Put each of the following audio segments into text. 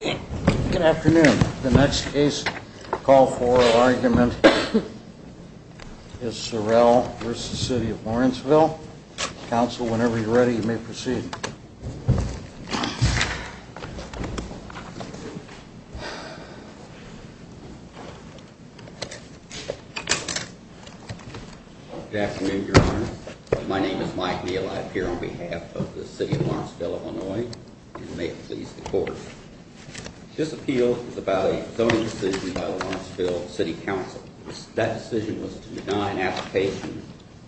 Good afternoon. The next case, call for argument, is Sorrell v. City of Lawrenceville. Counsel, whenever you're ready, you may proceed. Good afternoon, Your Honor. My name is Mike Neal. I appear on behalf of the City of Lawrenceville, Illinois. And may it please the Court. This appeal is about a zoning decision by the Lawrenceville City Council. That decision was to deny an application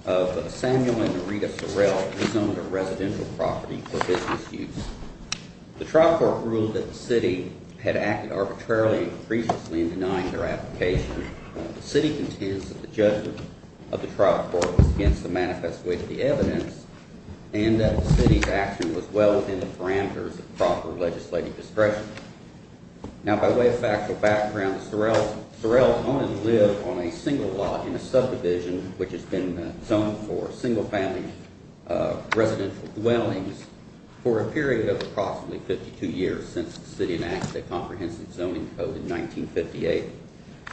of Samuel and Marita Sorrell, who owned a residential property for business use. The trial court ruled that the City had acted arbitrarily and capriciously in denying their application. The City contends that the judgment of the trial court was against the manifest way of the evidence and that the City's action was well within the parameters of proper legislative discretion. Now, by way of factual background, Sorrell owned and lived on a single lot in a subdivision which has been zoned for single family residential dwellings for a period of approximately 52 years since the City enacted a comprehensive zoning code in 1958.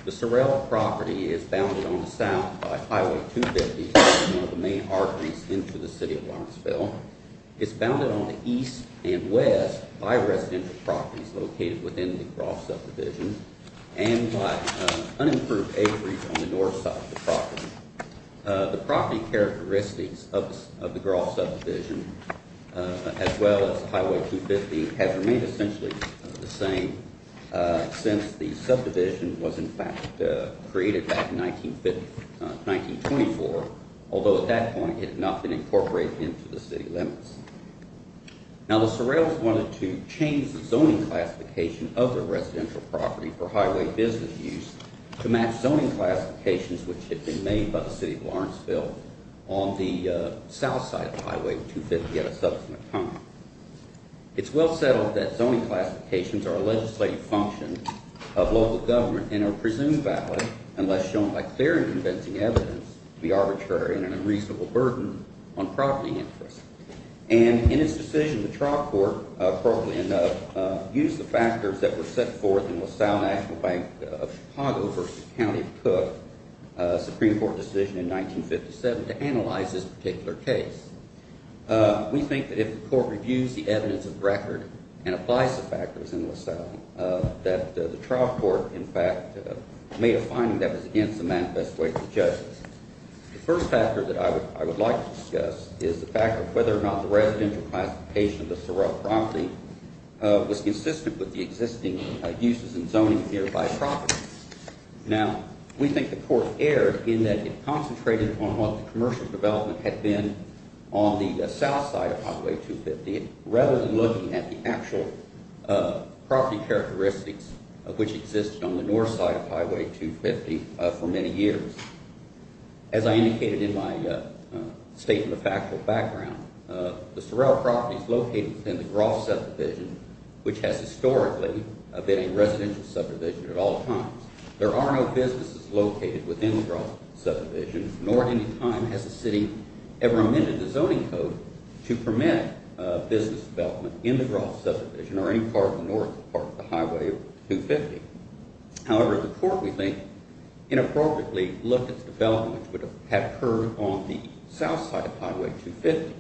The Sorrell property is bounded on the south by Highway 250, which is one of the main arteries into the City of Lawrenceville. It's bounded on the east and west by residential properties located within the Groff subdivision and by unimproved acreage on the north side of the property. The property characteristics of the Groff subdivision, as well as Highway 250, have remained essentially the same since the subdivision was in fact created back in 1924, although at that point it had not been incorporated into the City limits. Now, the Sorrells wanted to change the zoning classification of their residential property for highway business use to match zoning classifications which had been made by the City of Lawrenceville on the south side of Highway 250 at a subsequent time. It's well settled that zoning classifications are a legislative function of local government and are presumed valid unless shown by clear and convincing evidence to be arbitrary and an unreasonable burden on property interests. And in its decision, the trial court, appropriately enough, used the factors that were set forth in LaSalle National Bank of Chicago v. County of Cook, a Supreme Court decision in 1957, to analyze this particular case. We think that if the court reviews the evidence of the record and applies the factors in LaSalle, that the trial court in fact made a finding that was against the manifesto of the judges. The first factor that I would like to discuss is the fact of whether or not the residential classification of the Sorrell property was consistent with the existing uses and zoning here by property. Now, we think the court erred in that it concentrated on what the commercial development had been on the south side of Highway 250 rather than looking at the actual property characteristics of which existed on the north side of Highway 250 for many years. As I indicated in my statement of factual background, the Sorrell property is located within the Groff subdivision, which has historically been a residential subdivision at all times. There are no businesses located within the Groff subdivision, nor at any time has the city ever amended the zoning code to permit business development in the Groff subdivision or any part of the north part of the Highway 250. However, the court, we think, inappropriately looked at the development that would have occurred on the south side of Highway 250.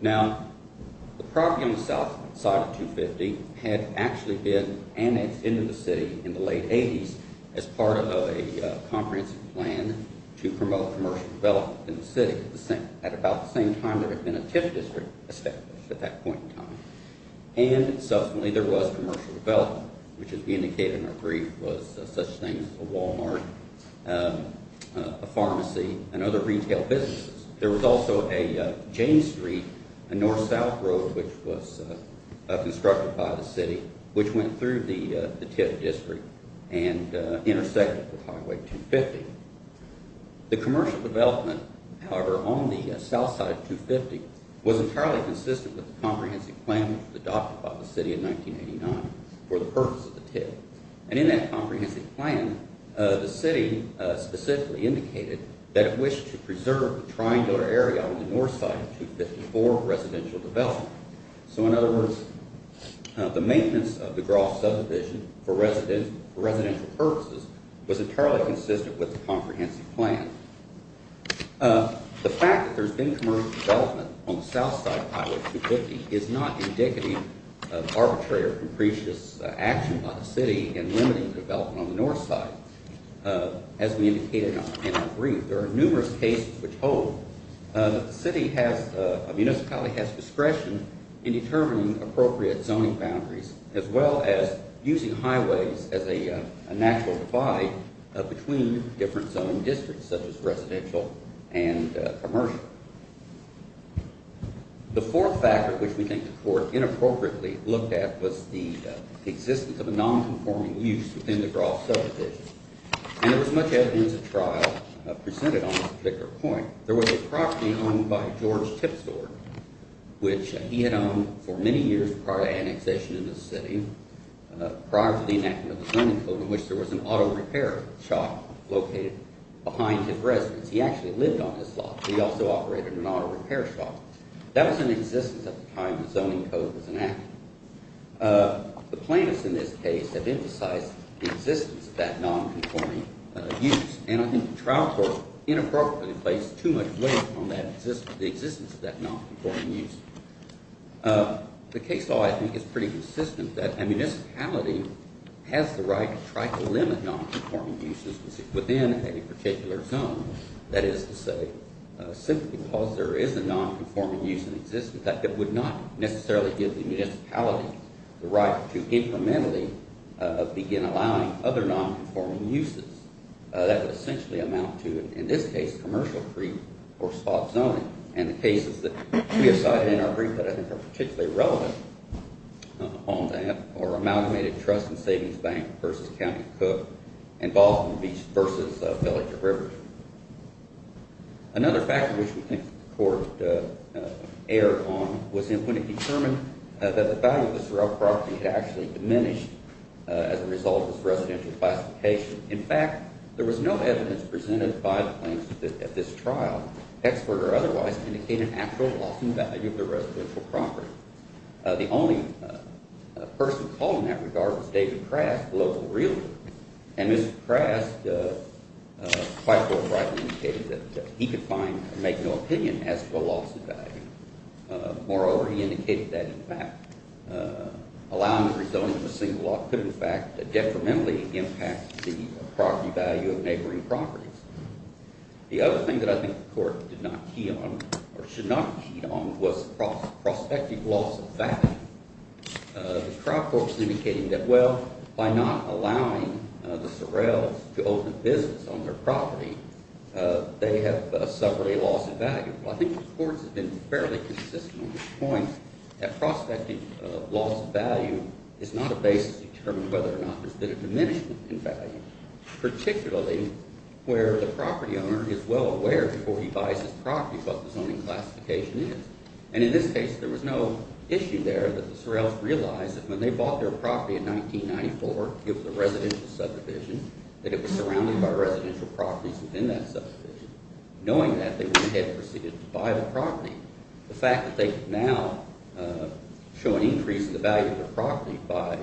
Now, the property on the south side of 250 had actually been annexed into the city in the late 80s as part of a comprehensive plan to promote commercial development in the city at about the same time there had been a TIF district established at that point in time. And subsequently there was commercial development, which as we indicated in our brief was such things as a Walmart, a pharmacy, and other retail businesses. There was also a Jane Street, a north-south road, which was constructed by the city, which went through the TIF district and intersected with Highway 250. The commercial development, however, on the south side of 250 was entirely consistent with the comprehensive plan adopted by the city in 1989 for the purpose of the TIF. And in that comprehensive plan, the city specifically indicated that it wished to preserve the triangular area on the north side of 254 for residential development. So in other words, the maintenance of the Groff subdivision for residential purposes was entirely consistent with the comprehensive plan. The fact that there's been commercial development on the south side of Highway 250 is not indicative of arbitrary or capricious action by the city in limiting development on the north side. As we indicated in our brief, there are numerous cases which hold that the municipality has discretion in determining appropriate zoning boundaries as well as using highways as a natural divide between different zoning districts such as residential and commercial. The fourth factor, which we think the court inappropriately looked at, was the existence of a nonconforming use within the Groff subdivision. And there was much evidence of trial presented on this particular point. There was a property owned by George Tipsord, which he had owned for many years prior to annexation in the city, prior to the enactment of the zoning code, in which there was an auto repair shop located behind his residence. He actually lived on his lot. He also operated an auto repair shop. That was in existence at the time the zoning code was enacted. The plaintiffs in this case have emphasized the existence of that nonconforming use. And I think the trial court inappropriately placed too much weight on the existence of that nonconforming use. The case law, I think, is pretty consistent that a municipality has the right to try to limit nonconforming uses within any particular zone. That is to say, simply because there is a nonconforming use in existence, that would not necessarily give the municipality the right to incrementally begin allowing other nonconforming uses. That would essentially amount to, in this case, commercial free or spot zoning. And the cases that we have cited in our brief that I think are particularly relevant on that are Amalgamated Trust and Savings Bank v. County Cook and Boston Beach v. Pelletier River. Another factor which we think the court erred on was when it determined that the value of this real property had actually diminished as a result of this residential classification. In fact, there was no evidence presented by the plaintiffs at this trial, expert or otherwise, indicating an actual loss in value of the residential property. The only person called in that regard was David Krask, local realtor. And Mr. Krask quite forthrightly indicated that he could make no opinion as to a loss in value. Moreover, he indicated that, in fact, allowing the rezoning of a single lot could, in fact, detrimentally impact the property value of neighboring properties. The other thing that I think the court did not key on or should not have keyed on was prospective loss of value. The trial courts indicated that, well, by not allowing the Sorrells to open business on their property, they have suffered a loss in value. Well, I think the courts have been fairly consistent on this point, that prospective loss of value is not a basis to determine whether or not there's been a diminishment in value, particularly where the property owner is well aware before he buys his property what the zoning classification is. And in this case, there was no issue there that the Sorrells realized that when they bought their property in 1994, it was a residential subdivision, that it was surrounded by residential properties within that subdivision. Knowing that, they went ahead and proceeded to buy the property. The fact that they could now show an increase in the value of their property by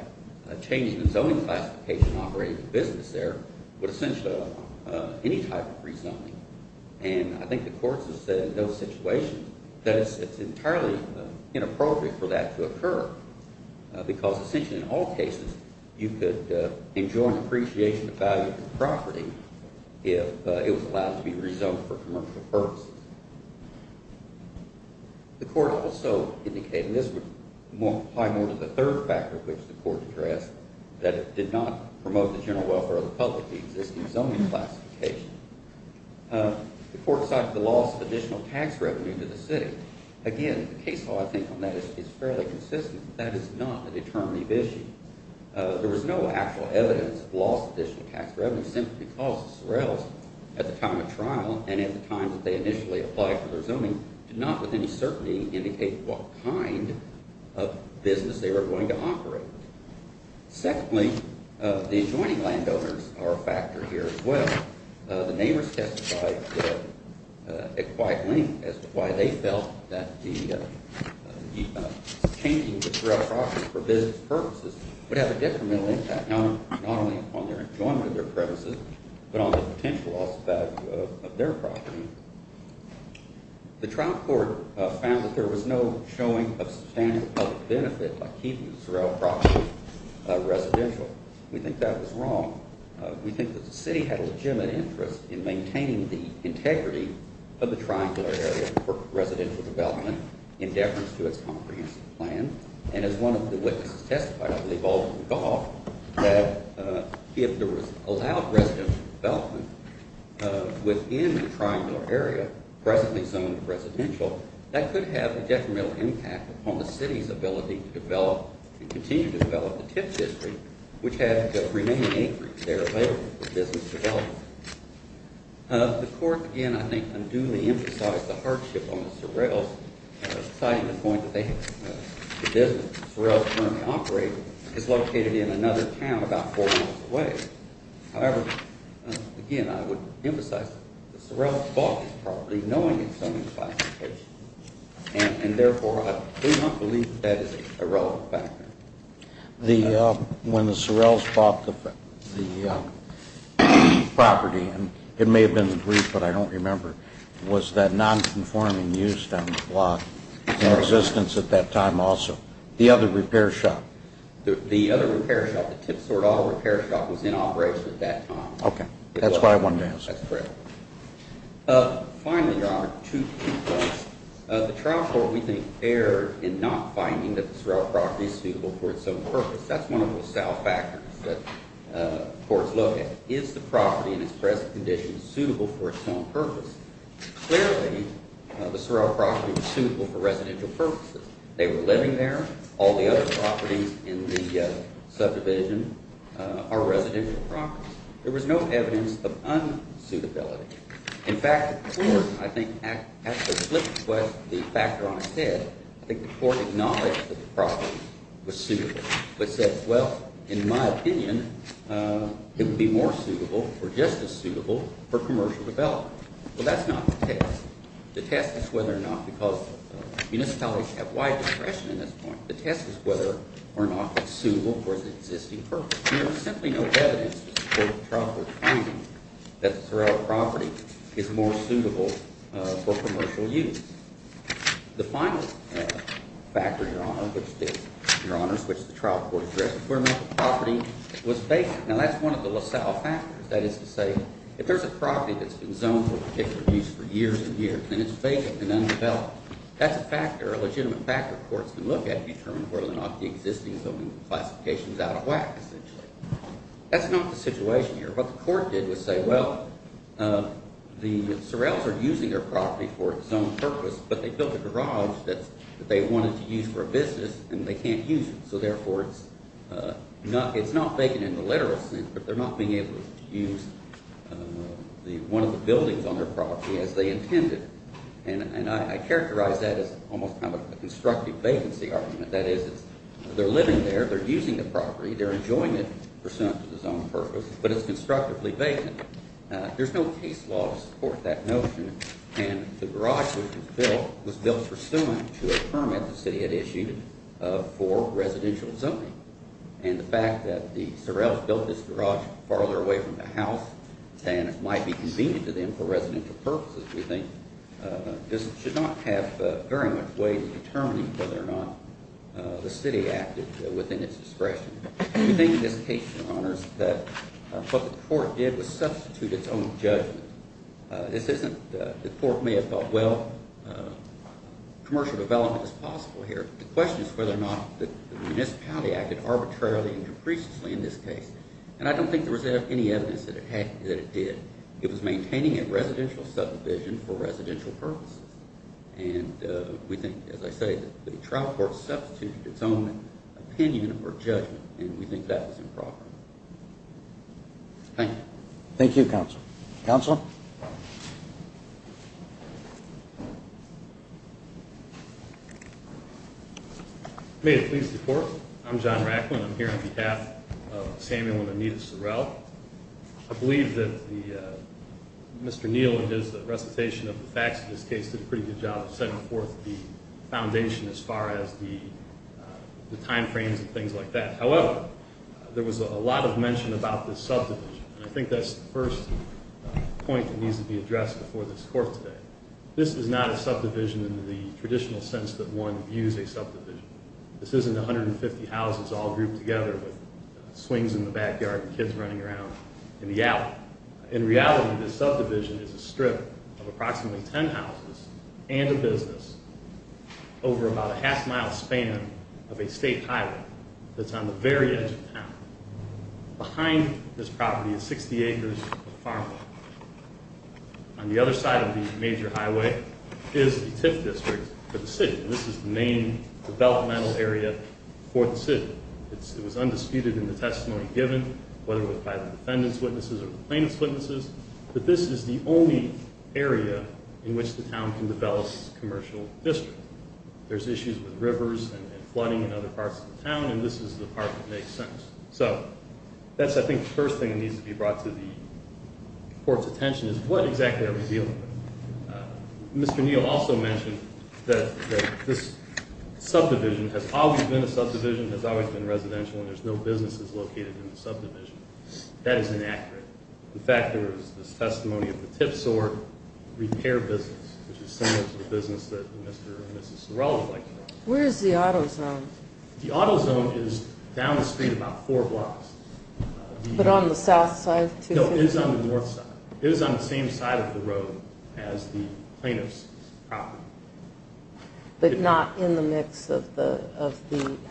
changing the zoning classification operating the business there would essentially allow any type of rezoning. And I think the courts have said in those situations that it's entirely inappropriate for that to occur because essentially in all cases, you could enjoy an appreciation of value of the property if it was allowed to be rezoned for commercial purposes. The court also indicated, and this would apply more to the third factor, which the court addressed, that it did not promote the general welfare of the public, the existing zoning classification. The court cited the loss of additional tax revenue to the city. Again, the case law, I think, on that is fairly consistent. That is not a determinative issue. There was no actual evidence of loss of additional tax revenue simply because the Sorrells, at the time of trial and at the time that they initially applied for their zoning, did not with any certainty indicate what kind of business they were going to operate. Secondly, the adjoining landowners are a factor here as well. The neighbors testified at quite length as to why they felt that changing the Sorrell property for business purposes would have a detrimental impact not only on their enjoyment of their premises but on the potential loss of value of their property. The trial court found that there was no showing of substantial public benefit by keeping the Sorrell property residential. We think that was wrong. We think that the city had a legitimate interest in maintaining the integrity of the triangular area for residential development in deference to its comprehensive plan. And as one of the witnesses testified, I believe, Alderman Goff, that if there was allowed residential development within the triangular area, presently zoned residential, that could have a detrimental impact upon the city's ability to develop and continue to develop the tip district, which had the remaining acreage there available for business development. The court, again, I think unduly emphasized the hardship on the Sorrells, citing the point that the business the Sorrells currently operate is located in another town about four miles away. However, again, I would emphasize that the Sorrells bought this property knowing its zoning classification, and, therefore, I do not believe that that is a relevant factor. When the Sorrells bought the property, and it may have been the brief, but I don't remember, was that nonconforming use down the block in existence at that time also? The other repair shop? The other repair shop, the Tip Sword Auto Repair Shop, was in operation at that time. Okay. That's why I wanted to ask. That's correct. Finally, Your Honor, two points. The trial court, we think, erred in not finding that the Sorrell property is suitable for its own purpose. That's one of the south factors that courts look at. Is the property in its present condition suitable for its own purpose? Clearly, the Sorrell property was suitable for residential purposes. They were living there. All the other properties in the subdivision are residential properties. There was no evidence of unsuitability. In fact, the court, I think, at the flip of the factor on its head, I think the court acknowledged that the property was suitable, but said, well, in my opinion, it would be more suitable or just as suitable for commercial development. Well, that's not the test. The test is whether or not, because municipalities have wide discretion at this point, the test is whether or not it's suitable for its existing purpose. There was simply no evidence to support the trial court's finding that the Sorrell property is more suitable for commercial use. The final factor, Your Honor, which the trial court addressed, the criminal property was vacant. Now, that's one of the LaSalle factors. That is to say, if there's a property that's been zoned for particular use for years and years, and it's vacant and undeveloped, that's a factor, a legitimate factor courts can look at and determine whether or not the existing zoning classification is out of whack, essentially. That's not the situation here. What the court did was say, well, the Sorrells are using their property for its own purpose, but they built a garage that they wanted to use for a business, and they can't use it. So therefore, it's not vacant in the literal sense, but they're not being able to use one of the buildings on their property as they intended. And I characterize that as almost kind of a constructive vacancy argument. That is, they're living there. They're using the property. They're enjoying it pursuant to the zoned purpose, but it's constructively vacant. There's no case law to support that notion, and the garage which was built was built pursuant to a permit the city had issued for residential zoning. And the fact that the Sorrells built this garage farther away from the house and it might be convenient to them for residential purposes, we think, just should not have very much way in determining whether or not the city acted within its discretion. We think in this case, Your Honors, that what the court did was substitute its own judgment. This isn't the court may have thought, well, commercial development is possible here. The question is whether or not the municipality acted arbitrarily and capriciously in this case. And I don't think there was any evidence that it did. It was maintaining a residential subdivision for residential purposes. And we think, as I say, the trial court substituted its own opinion or judgment, and we think that was improper. Thank you. Thank you, Counsel. Counsel? May it please the Court? I'm John Racklin. I'm here on behalf of Samuel and Anita Sorrell. I believe that Mr. Neal, in his recitation of the facts of this case, did a pretty good job of setting forth the foundation as far as the time frames and things like that. However, there was a lot of mention about this subdivision, and I think that's the first point that needs to be addressed before this court today. This is not a subdivision in the traditional sense that one views a subdivision. This isn't 150 houses all grouped together with swings in the backyard and kids running around in the alley. In reality, this subdivision is a strip of approximately 10 houses and a business over about a half-mile span of a state highway that's on the very edge of town. Behind this property is 60 acres of farmland. On the other side of the major highway is the TIF district for the city. This is the main developmental area for the city. It was undisputed in the testimony given, whether it was by the defendant's witnesses or the plaintiff's witnesses, that this is the only area in which the town can develop as a commercial district. There's issues with rivers and flooding in other parts of the town, and this is the part that makes sense. So that's, I think, the first thing that needs to be brought to the court's attention, is what exactly are we dealing with? Mr. Neal also mentioned that this subdivision has always been a subdivision, has always been residential, and there's no businesses located in the subdivision. That is inaccurate. In fact, there is this testimony of the TIF SOAR repair business, which is similar to the business that Mr. and Mrs. Sorrell would like to have. Where is the auto zone? The auto zone is down the street about four blocks. But on the south side? No, it is on the north side. It is on the same side of the road as the plaintiff's property. But not in the mix of the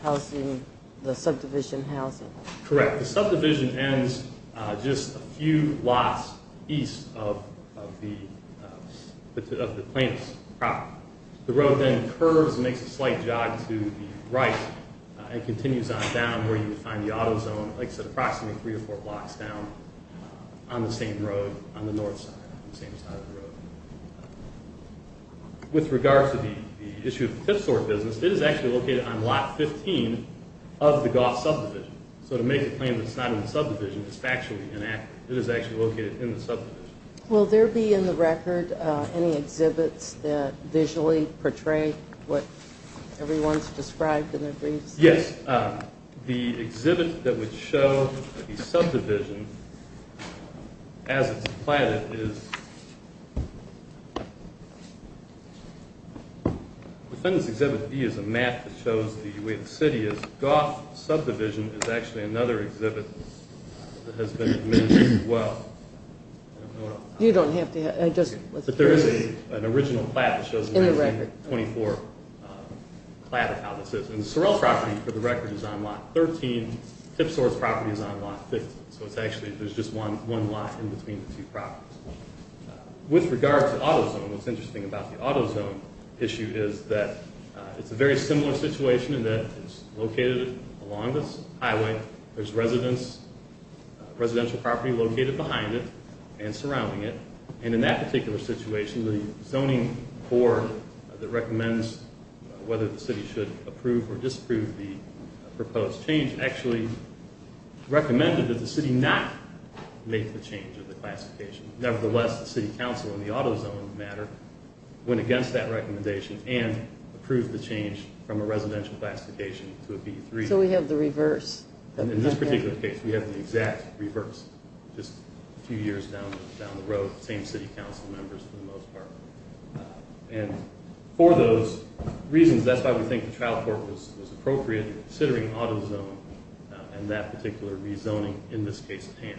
housing, the subdivision housing? Correct. The subdivision ends just a few blocks east of the plaintiff's property. The road then curves and makes a slight jog to the right and continues on down, where you would find the auto zone, like I said, approximately three or four blocks down on the same road, on the north side, on the same side of the road. With regards to the issue of the TIF SOAR business, it is actually located on lot 15 of the golf subdivision. So to make a claim that it's not in the subdivision is factually inaccurate. It is actually located in the subdivision. Will there be in the record any exhibits that visually portray what everyone's described in their briefs? Yes. The exhibit that would show the subdivision as it's platted is defendant's exhibit B is a map that shows the way the city is. Golf subdivision is actually another exhibit that has been mentioned as well. You don't have to. But there is an original plat that shows the 1924 plat of how this is. And the Sorrell property, for the record, is on lot 13. TIF SOAR's property is on lot 15. So it's actually, there's just one lot in between the two properties. With regards to auto zone, what's interesting about the auto zone issue is that it's a very similar situation in that it's located along this highway. There's residential property located behind it and surrounding it. And in that particular situation, the zoning board that recommends whether the city should approve or disapprove the proposed change actually recommended that the city not make the change of the classification. Nevertheless, the city council in the auto zone matter went against that recommendation and approved the change from a residential classification to a B3. So we have the reverse. In this particular case, we have the exact reverse. Just a few years down the road, same city council members for the most part. And for those reasons, that's why we think the trial court was appropriate in considering auto zone and that particular rezoning, in this case, TANF.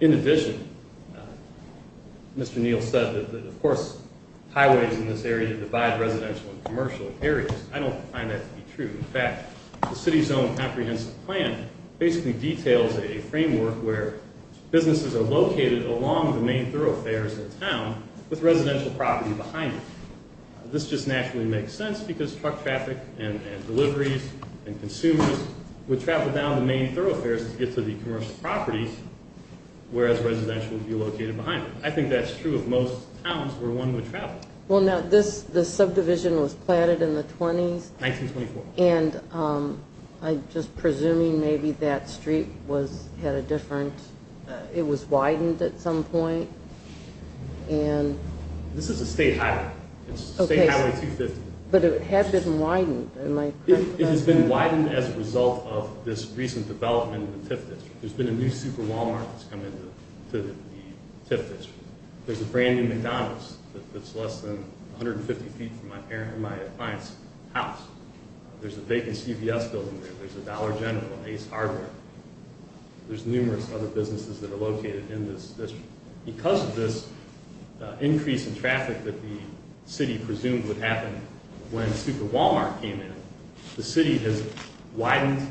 In addition, Mr. Neal said that, of course, highways in this area divide residential and commercial areas. I don't find that to be true. In fact, the city's own comprehensive plan basically details a framework where businesses are located along the main thoroughfares of the town with residential property behind it. This just naturally makes sense because truck traffic and deliveries and consumers would travel down the main thoroughfares to get to the commercial properties, whereas residential would be located behind it. I think that's true of most towns where one would travel. Well, now, this subdivision was planted in the 20s. 1924. And I'm just presuming maybe that street had a different – it was widened at some point. This is a state highway. It's State Highway 250. But it had been widened. It has been widened as a result of this recent development in the TIF district. There's been a new super Walmart that's come into the TIF district. There's a brand-new McDonald's that's less than 150 feet from my client's house. There's a vacant CVS building there. There's a Dollar General, Ace Harbor. There's numerous other businesses that are located in this district. Because of this increase in traffic that the city presumed would happen when super Walmart came in, the city has widened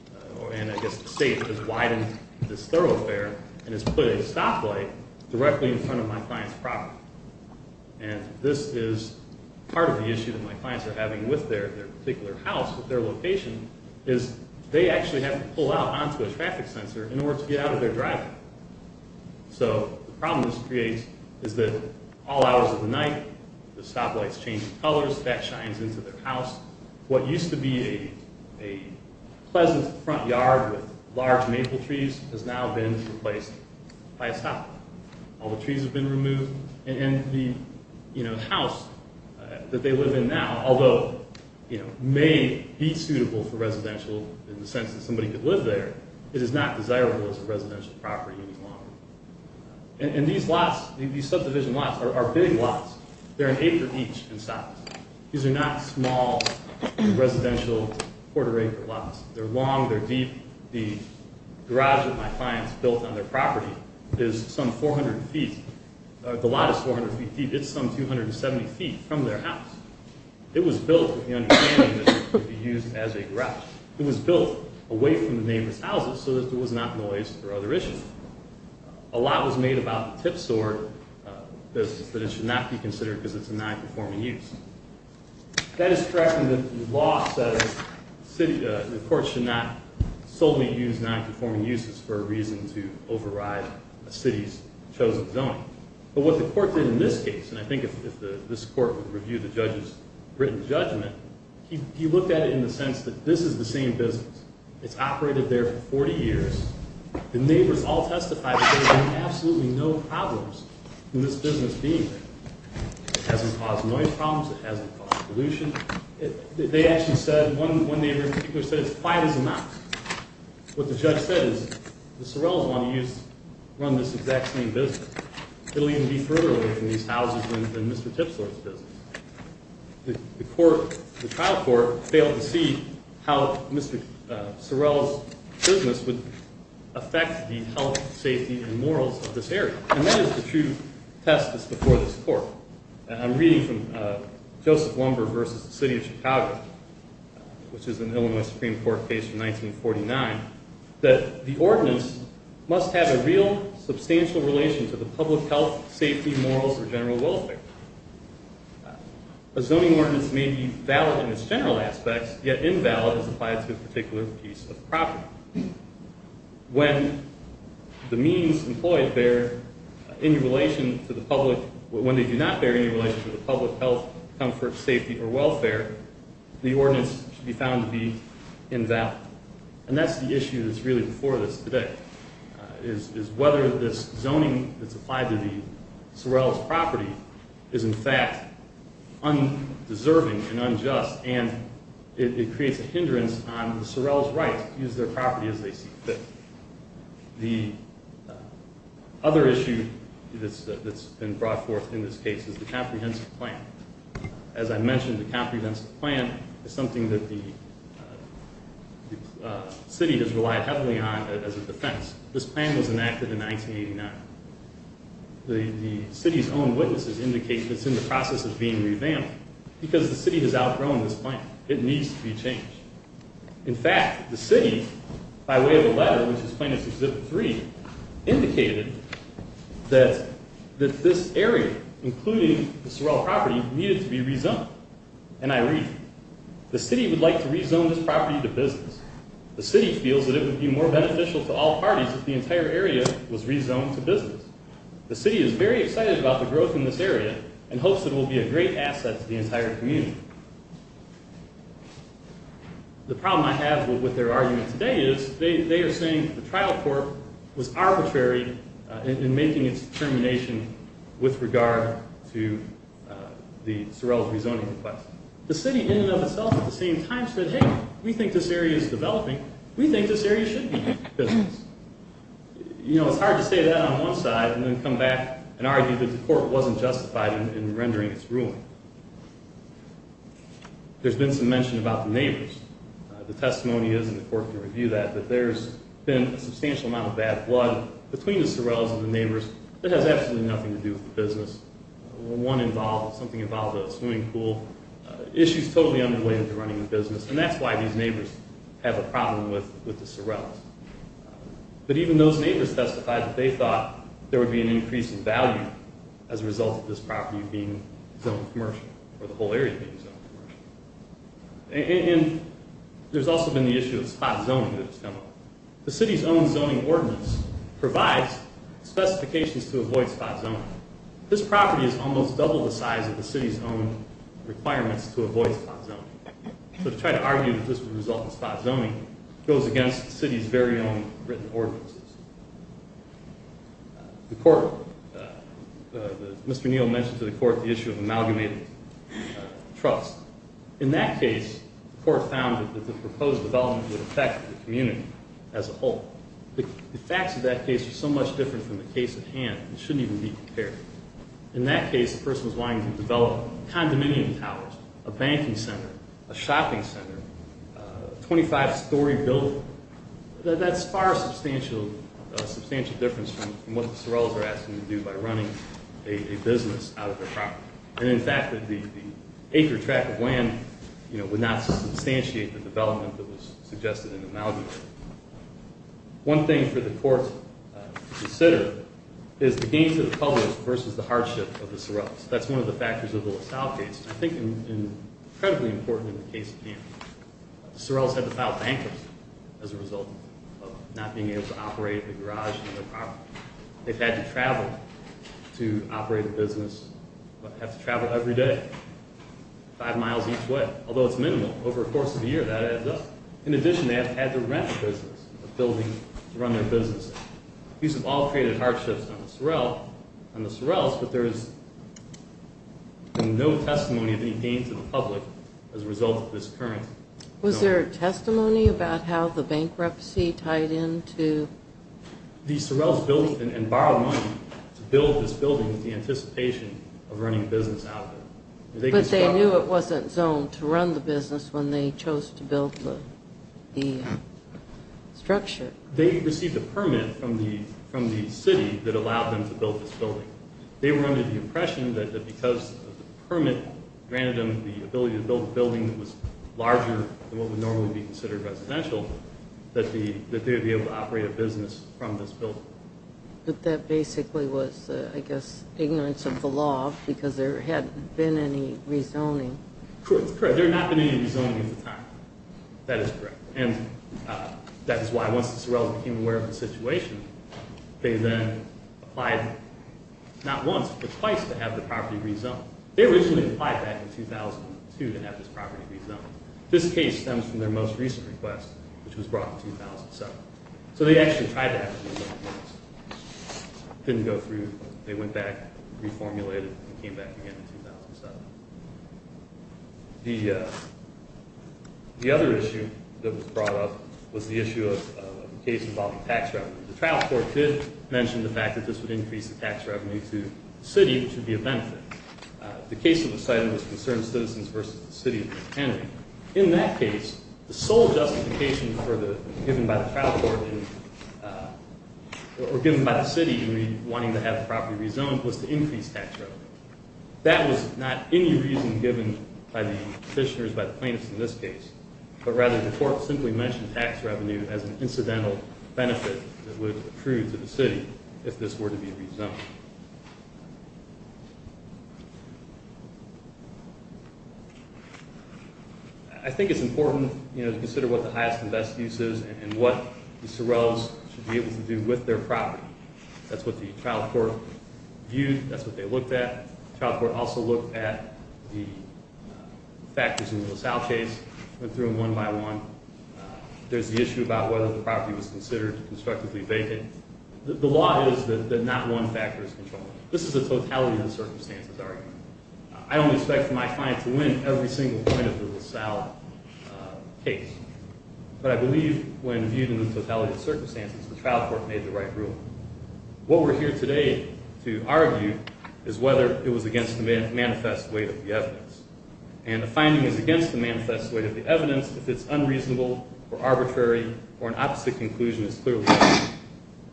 – and I guess the state has widened this thoroughfare and has put a stoplight directly in front of my client's property. And this is part of the issue that my clients are having with their particular house, with their location, is they actually have to pull out onto a traffic sensor in order to get out of their driveway. So the problem this creates is that all hours of the night, the stoplight's changing colors, that shines into their house. What used to be a pleasant front yard with large maple trees has now been replaced by a stoplight. All the trees have been removed, and the house that they live in now, although may be suitable for residential in the sense that somebody could live there, it is not desirable as a residential property any longer. And these lots, these subdivision lots, are big lots. They're an acre each in size. These are not small residential quarter-acre lots. They're long, they're deep. The garage that my clients built on their property is some 400 feet. The lot is 400 feet deep. It's some 270 feet from their house. It was built with the understanding that it could be used as a garage. It was built away from the neighbor's houses so that there was not noise or other issues. A lot was made about the tip sword business, that it should not be considered because it's a non-performing use. That is correct in that the law says the court should not solely use non-performing uses for a reason to override a city's chosen zoning. But what the court did in this case, and I think if this court would review the judge's written judgment, he looked at it in the sense that this is the same business. It's operated there for 40 years. The neighbors all testified that there have been absolutely no problems in this business being there. It hasn't caused noise problems. It hasn't caused pollution. They actually said, one neighbor in particular said, it's quiet as a mouse. What the judge said is the Sorrells want to run this exact same business. It'll even be further away from these houses than Mr. Tipsword's business. The trial court failed to see how Mr. Sorrell's business would affect the health, safety, and morals of this area. And that is the true test that's before this court. I'm reading from Joseph Lumber versus the City of Chicago, which is an Illinois Supreme Court case from 1949, that the ordinance must have a real substantial relation to the public health, safety, morals, or general welfare. A zoning ordinance may be valid in its general aspects, yet invalid as applied to a particular piece of property. When the means employed bear any relation to the public, when they do not bear any relation to the public health, comfort, safety, or welfare, the ordinance should be found to be invalid. And that's the issue that's really before this today, is whether this zoning that's applied to the Sorrells' property is in fact undeserving and unjust, and it creates a hindrance on the Sorrells' right to use their property as they see fit. The other issue that's been brought forth in this case is the comprehensive plan. As I mentioned, the comprehensive plan is something that the city has relied heavily on as a defense. This plan was enacted in 1989. The city's own witnesses indicate that it's in the process of being revamped, because the city has outgrown this plan. It needs to be changed. In fact, the city, by way of a letter, which is plaintiff's Exhibit 3, indicated that this area, including the Sorrell property, needed to be rezoned. And I read, the city would like to rezone this property to business. The city feels that it would be more beneficial to all parties if the entire area was rezoned to business. The city is very excited about the growth in this area, and hopes it will be a great asset to the entire community. The problem I have with their argument today is, they are saying the trial court was arbitrary in making its determination with regard to the Sorrells' rezoning request. The city, in and of itself, at the same time, said, hey, we think this area is developing. We think this area should be business. You know, it's hard to say that on one side, and then come back and argue that the court wasn't justified in rendering its ruling. There's been some mention about the neighbors. The testimony is, and the court can review that, that there's been a substantial amount of bad blood between the Sorrells and the neighbors that has absolutely nothing to do with the business. One involved, something involved with a swimming pool. Issues totally unrelated to running a business, and that's why these neighbors have a problem with the Sorrells. But even those neighbors testified that they thought there would be an increase in value as a result of this property being zoned commercial, or the whole area being zoned commercial. And there's also been the issue of spot zoning that has come up. The city's own zoning ordinance provides specifications to avoid spot zoning. Now, this property is almost double the size of the city's own requirements to avoid spot zoning. So to try to argue that this would result in spot zoning goes against the city's very own written ordinances. The court, Mr. Neal mentioned to the court the issue of amalgamated trust. In that case, the court found that the proposed development would affect the community as a whole. The facts of that case are so much different from the case at hand, it shouldn't even be compared. In that case, the person was wanting to develop condominium towers, a banking center, a shopping center, a 25-story building. That's far a substantial difference from what the Sorrells are asking to do by running a business out of their property. And in fact, the acre track of land would not substantiate the development that was suggested in the amalgamated. One thing for the court to consider is the gains to the public versus the hardship of the Sorrells. That's one of the factors of the LaSalle case, and I think incredibly important in the case at hand. The Sorrells had to file bankruptcy as a result of not being able to operate a garage on their property. They've had to travel to operate a business, but have to travel every day, five miles each way, although it's minimal. Over a course of a year, that adds up. In addition, they have had to rent a building to run their business. These have all created hardships on the Sorrells, but there's been no testimony of any gain to the public as a result of this current development. Was there testimony about how the bankruptcy tied into… The Sorrells built and borrowed money to build this building in anticipation of running a business out of it. But they knew it wasn't zoned to run the business when they chose to build the structure. They received a permit from the city that allowed them to build this building. They were under the impression that because the permit granted them the ability to build a building that was larger than what would normally be considered residential, that they would be able to operate a business from this building. But that basically was, I guess, ignorance of the law, because there hadn't been any rezoning. Correct. There had not been any rezoning at the time. That is correct. And that is why, once the Sorrells became aware of the situation, they then applied not once, but twice, to have the property rezoned. They originally applied back in 2002 to have this property rezoned. This case stems from their most recent request, which was brought in 2007. So they actually tried to have it rezoned once. It didn't go through. They went back, reformulated, and came back again in 2007. The other issue that was brought up was the issue of a case involving tax revenue. The trial court did mention the fact that this would increase the tax revenue to the city, which would be a benefit. The case of the site was concerned citizens versus the city. In that case, the sole justification given by the city in wanting to have the property rezoned was to increase tax revenue. That was not any reason given by the petitioners, by the plaintiffs in this case. But rather, the court simply mentioned tax revenue as an incidental benefit that would accrue to the city if this were to be rezoned. I think it's important to consider what the highest and best use is and what the Sorrells should be able to do with their property. That's what the trial court viewed. That's what they looked at. The trial court also looked at the factors in the LaSalle case, went through them one by one. There's the issue about whether the property was considered constructively vacant. The law is that not one factor is controlled. This is a totality of the circumstances argument. I don't expect my client to win every single point of the LaSalle case. But I believe when viewed in the totality of circumstances, the trial court made the right rule. What we're here today to argue is whether it was against the manifest weight of the evidence. And the finding is against the manifest weight of the evidence if it's unreasonable or arbitrary or an opposite conclusion is clearly made.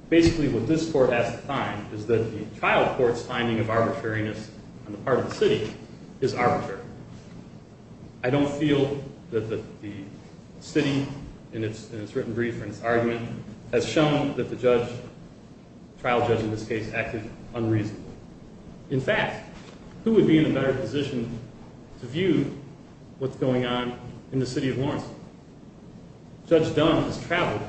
Basically, what this court has to find is that the trial court's finding of arbitrariness on the part of the city is arbitrary. I don't feel that the city in its written brief and its argument has shown that the judge, trial judge in this case, acted unreasonably. In fact, who would be in a better position to view what's going on in the city of Lawrenceville? Judge Dunn has traveled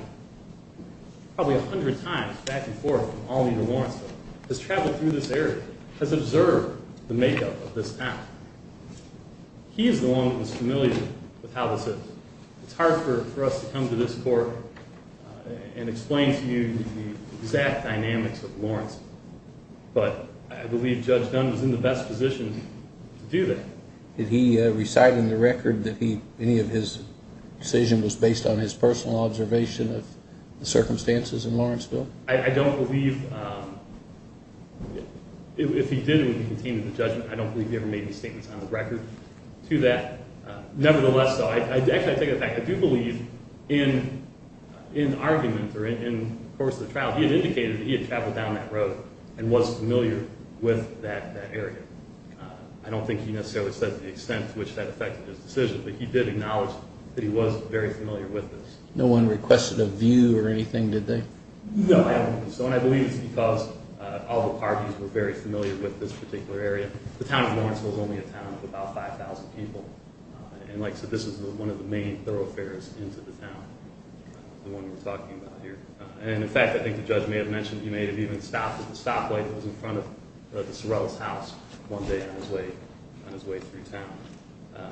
probably a hundred times back and forth from Albany to Lawrenceville. Has traveled through this area, has observed the makeup of this town. He is the one who is familiar with how this is. It's hard for us to come to this court and explain to you the exact dynamics of Lawrenceville. But I believe Judge Dunn was in the best position to do that. Did he recite in the record that any of his decision was based on his personal observation of the circumstances in Lawrenceville? I don't believe, if he did, he would be contained in the judgment. I don't believe he ever made any statements on the record to that. Nevertheless, though, I do believe in arguments or in the course of the trial, he had indicated that he had traveled down that road and was familiar with that area. I don't think he necessarily said the extent to which that affected his decision, but he did acknowledge that he was very familiar with this. No one requested a view or anything, did they? No, I don't think so. And I believe it's because all the parties were very familiar with this particular area. The town of Lawrenceville is only a town of about 5,000 people. And like I said, this is one of the main thoroughfares into the town, the one we're talking about here. And in fact, I think the judge may have mentioned he may have even stopped at the stoplight that was in front of the Sorrell's house one day on his way through town.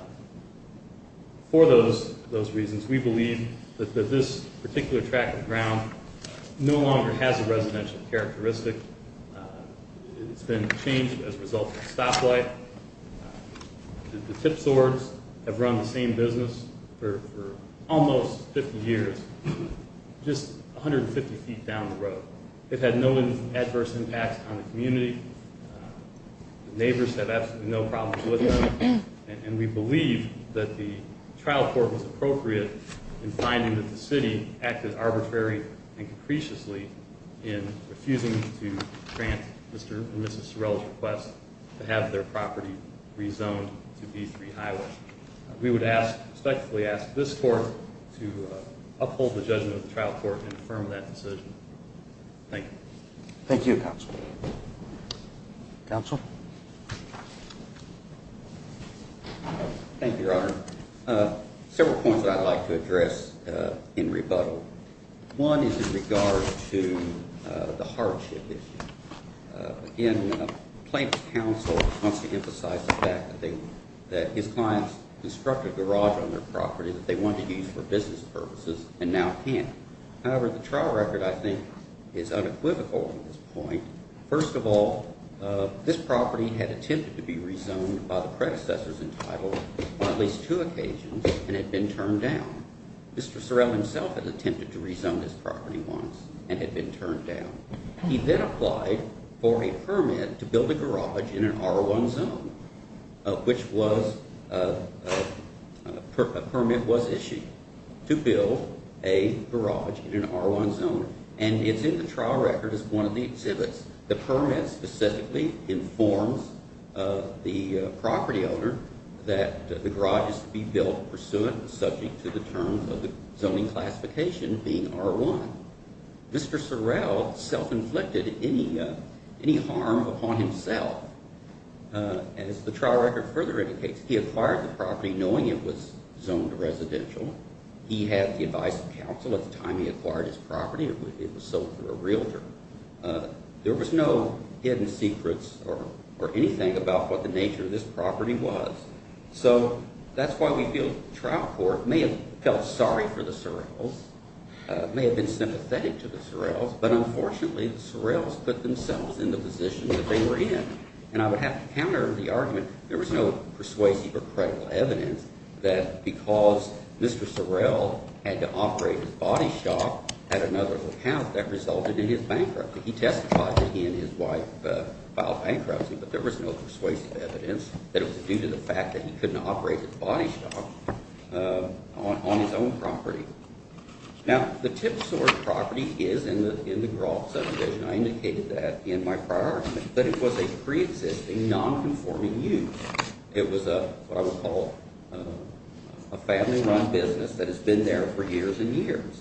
For those reasons, we believe that this particular track of ground no longer has a residential characteristic. It's been changed as a result of stoplight. The tip swords have run the same business for almost 50 years, just 150 feet down the road. It had no adverse impacts on the community. Neighbors have absolutely no problems with it. And we believe that the trial court was appropriate in finding that the city acted arbitrary and capriciously in refusing to grant Mr and Mrs Sorrell's request to have their property rezoned to V3 Highway. We would respectfully ask this court to uphold the judgment of the trial court and affirm that decision. Thank you. Thank you, Counsel. Counsel. Thank you, Your Honor. Several points I'd like to address in rebuttal. One is in regard to the hardship issue. Again, Plaintiff's counsel wants to emphasize the fact that his clients constructed a garage on their property that they wanted to use for business purposes and now can't. However, the trial record, I think, is unequivocal in this point. First of all, this property had attempted to be rezoned by the predecessors entitled on at least two occasions and had been turned down. Mr. Sorrell himself had attempted to rezone this property once and had been turned down. He then applied for a permit to build a garage in an R1 zone, which was – a permit was issued to build a garage in an R1 zone. And it's in the trial record as one of the exhibits. The permit specifically informs the property owner that the garage is to be built pursuant and subject to the terms of the zoning classification being R1. Mr. Sorrell self-inflicted any harm upon himself. As the trial record further indicates, he acquired the property knowing it was zoned residential. He had the advice of counsel at the time he acquired his property. It was sold to a realtor. There was no hidden secrets or anything about what the nature of this property was. So that's why we feel the trial court may have felt sorry for the Sorrells, may have been sympathetic to the Sorrells, but unfortunately the Sorrells put themselves in the position that they were in. And I would have to counter the argument there was no persuasive or credible evidence that because Mr. Sorrell had to operate his body shop at another account, that resulted in his bankruptcy. He testified that he and his wife filed bankruptcy, but there was no persuasive evidence that it was due to the fact that he couldn't operate his body shop on his own property. Now, the Tipsworth property is in the Groff subdivision. I indicated that in my prior argument. But it was a preexisting, nonconforming use. It was what I would call a family-run business that has been there for years and years.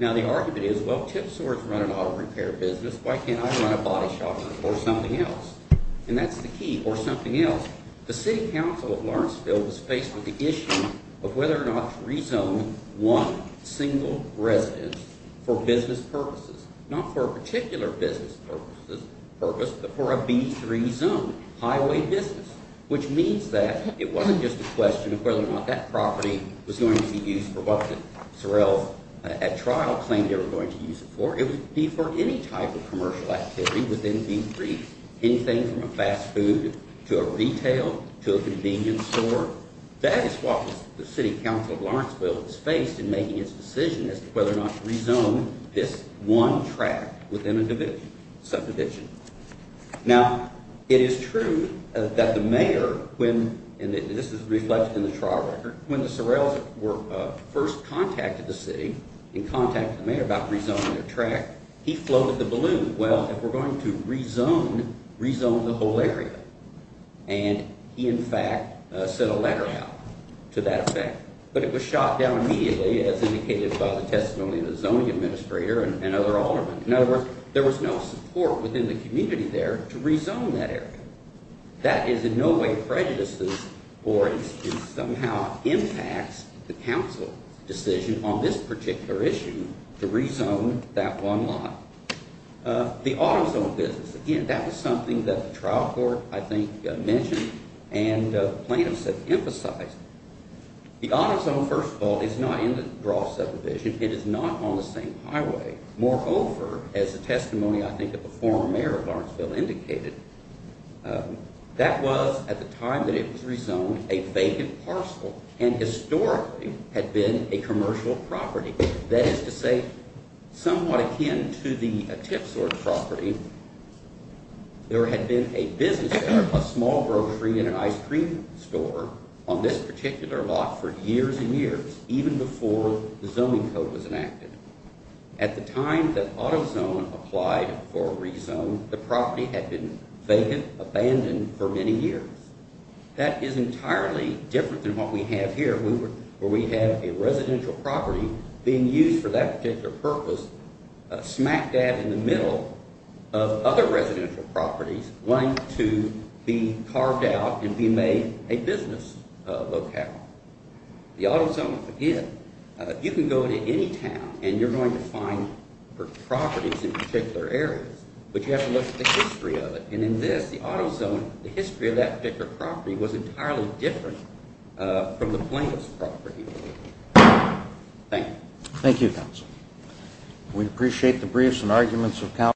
Now, the argument is, well, Tipsworth run an auto repair business. Why can't I run a body shop or something else? And that's the key. Or something else. The city council of Lawrenceville was faced with the issue of whether or not to rezone one single residence for business purposes. Not for a particular business purpose, but for a B3 zone, highway business. Which means that it wasn't just a question of whether or not that property was going to be used for what Sorrell at trial claimed they were going to use it for. It would be for any type of commercial activity within B3. Anything from a fast food to a retail to a convenience store. That is what the city council of Lawrenceville is faced in making its decision as to whether or not to rezone this one tract within a subdivision. Now, it is true that the mayor, and this is reflected in the trial record, when the Sorrells were first contacted the city and contacted the mayor about rezoning their tract, he floated the balloon. Well, if we're going to rezone, rezone the whole area. And he, in fact, sent a letter out to that effect. But it was shot down immediately as indicated by the testimony of the zoning administrator and other aldermen. In other words, there was no support within the community there to rezone that area. That is in no way prejudiced or somehow impacts the council decision on this particular issue to rezone that one lot. The auto zone business, again, that was something that the trial court, I think, mentioned and plaintiffs have emphasized. The auto zone, first of all, is not in the draw subdivision. It is not on the same highway. Moreover, as the testimony, I think, of the former mayor of Lawrenceville indicated, that was, at the time that it was rezoned, a vacant parcel and historically had been a commercial property. That is to say, somewhat akin to the tip sort property, there had been a business, a small grocery and an ice cream store on this particular lot for years and years, even before the zoning code was enacted. At the time that auto zone applied for rezone, the property had been vacant, abandoned for many years. That is entirely different than what we have here where we have a residential property being used for that particular purpose smack dab in the middle of other residential properties wanting to be carved out and be made a business locale. The auto zone, again, you can go to any town and you're going to find properties in particular areas, but you have to look at the history of it. In this, the auto zone, the history of that particular property was entirely different from the plaintiff's property. Thank you. Thank you, counsel. We appreciate the briefs and arguments of counsel.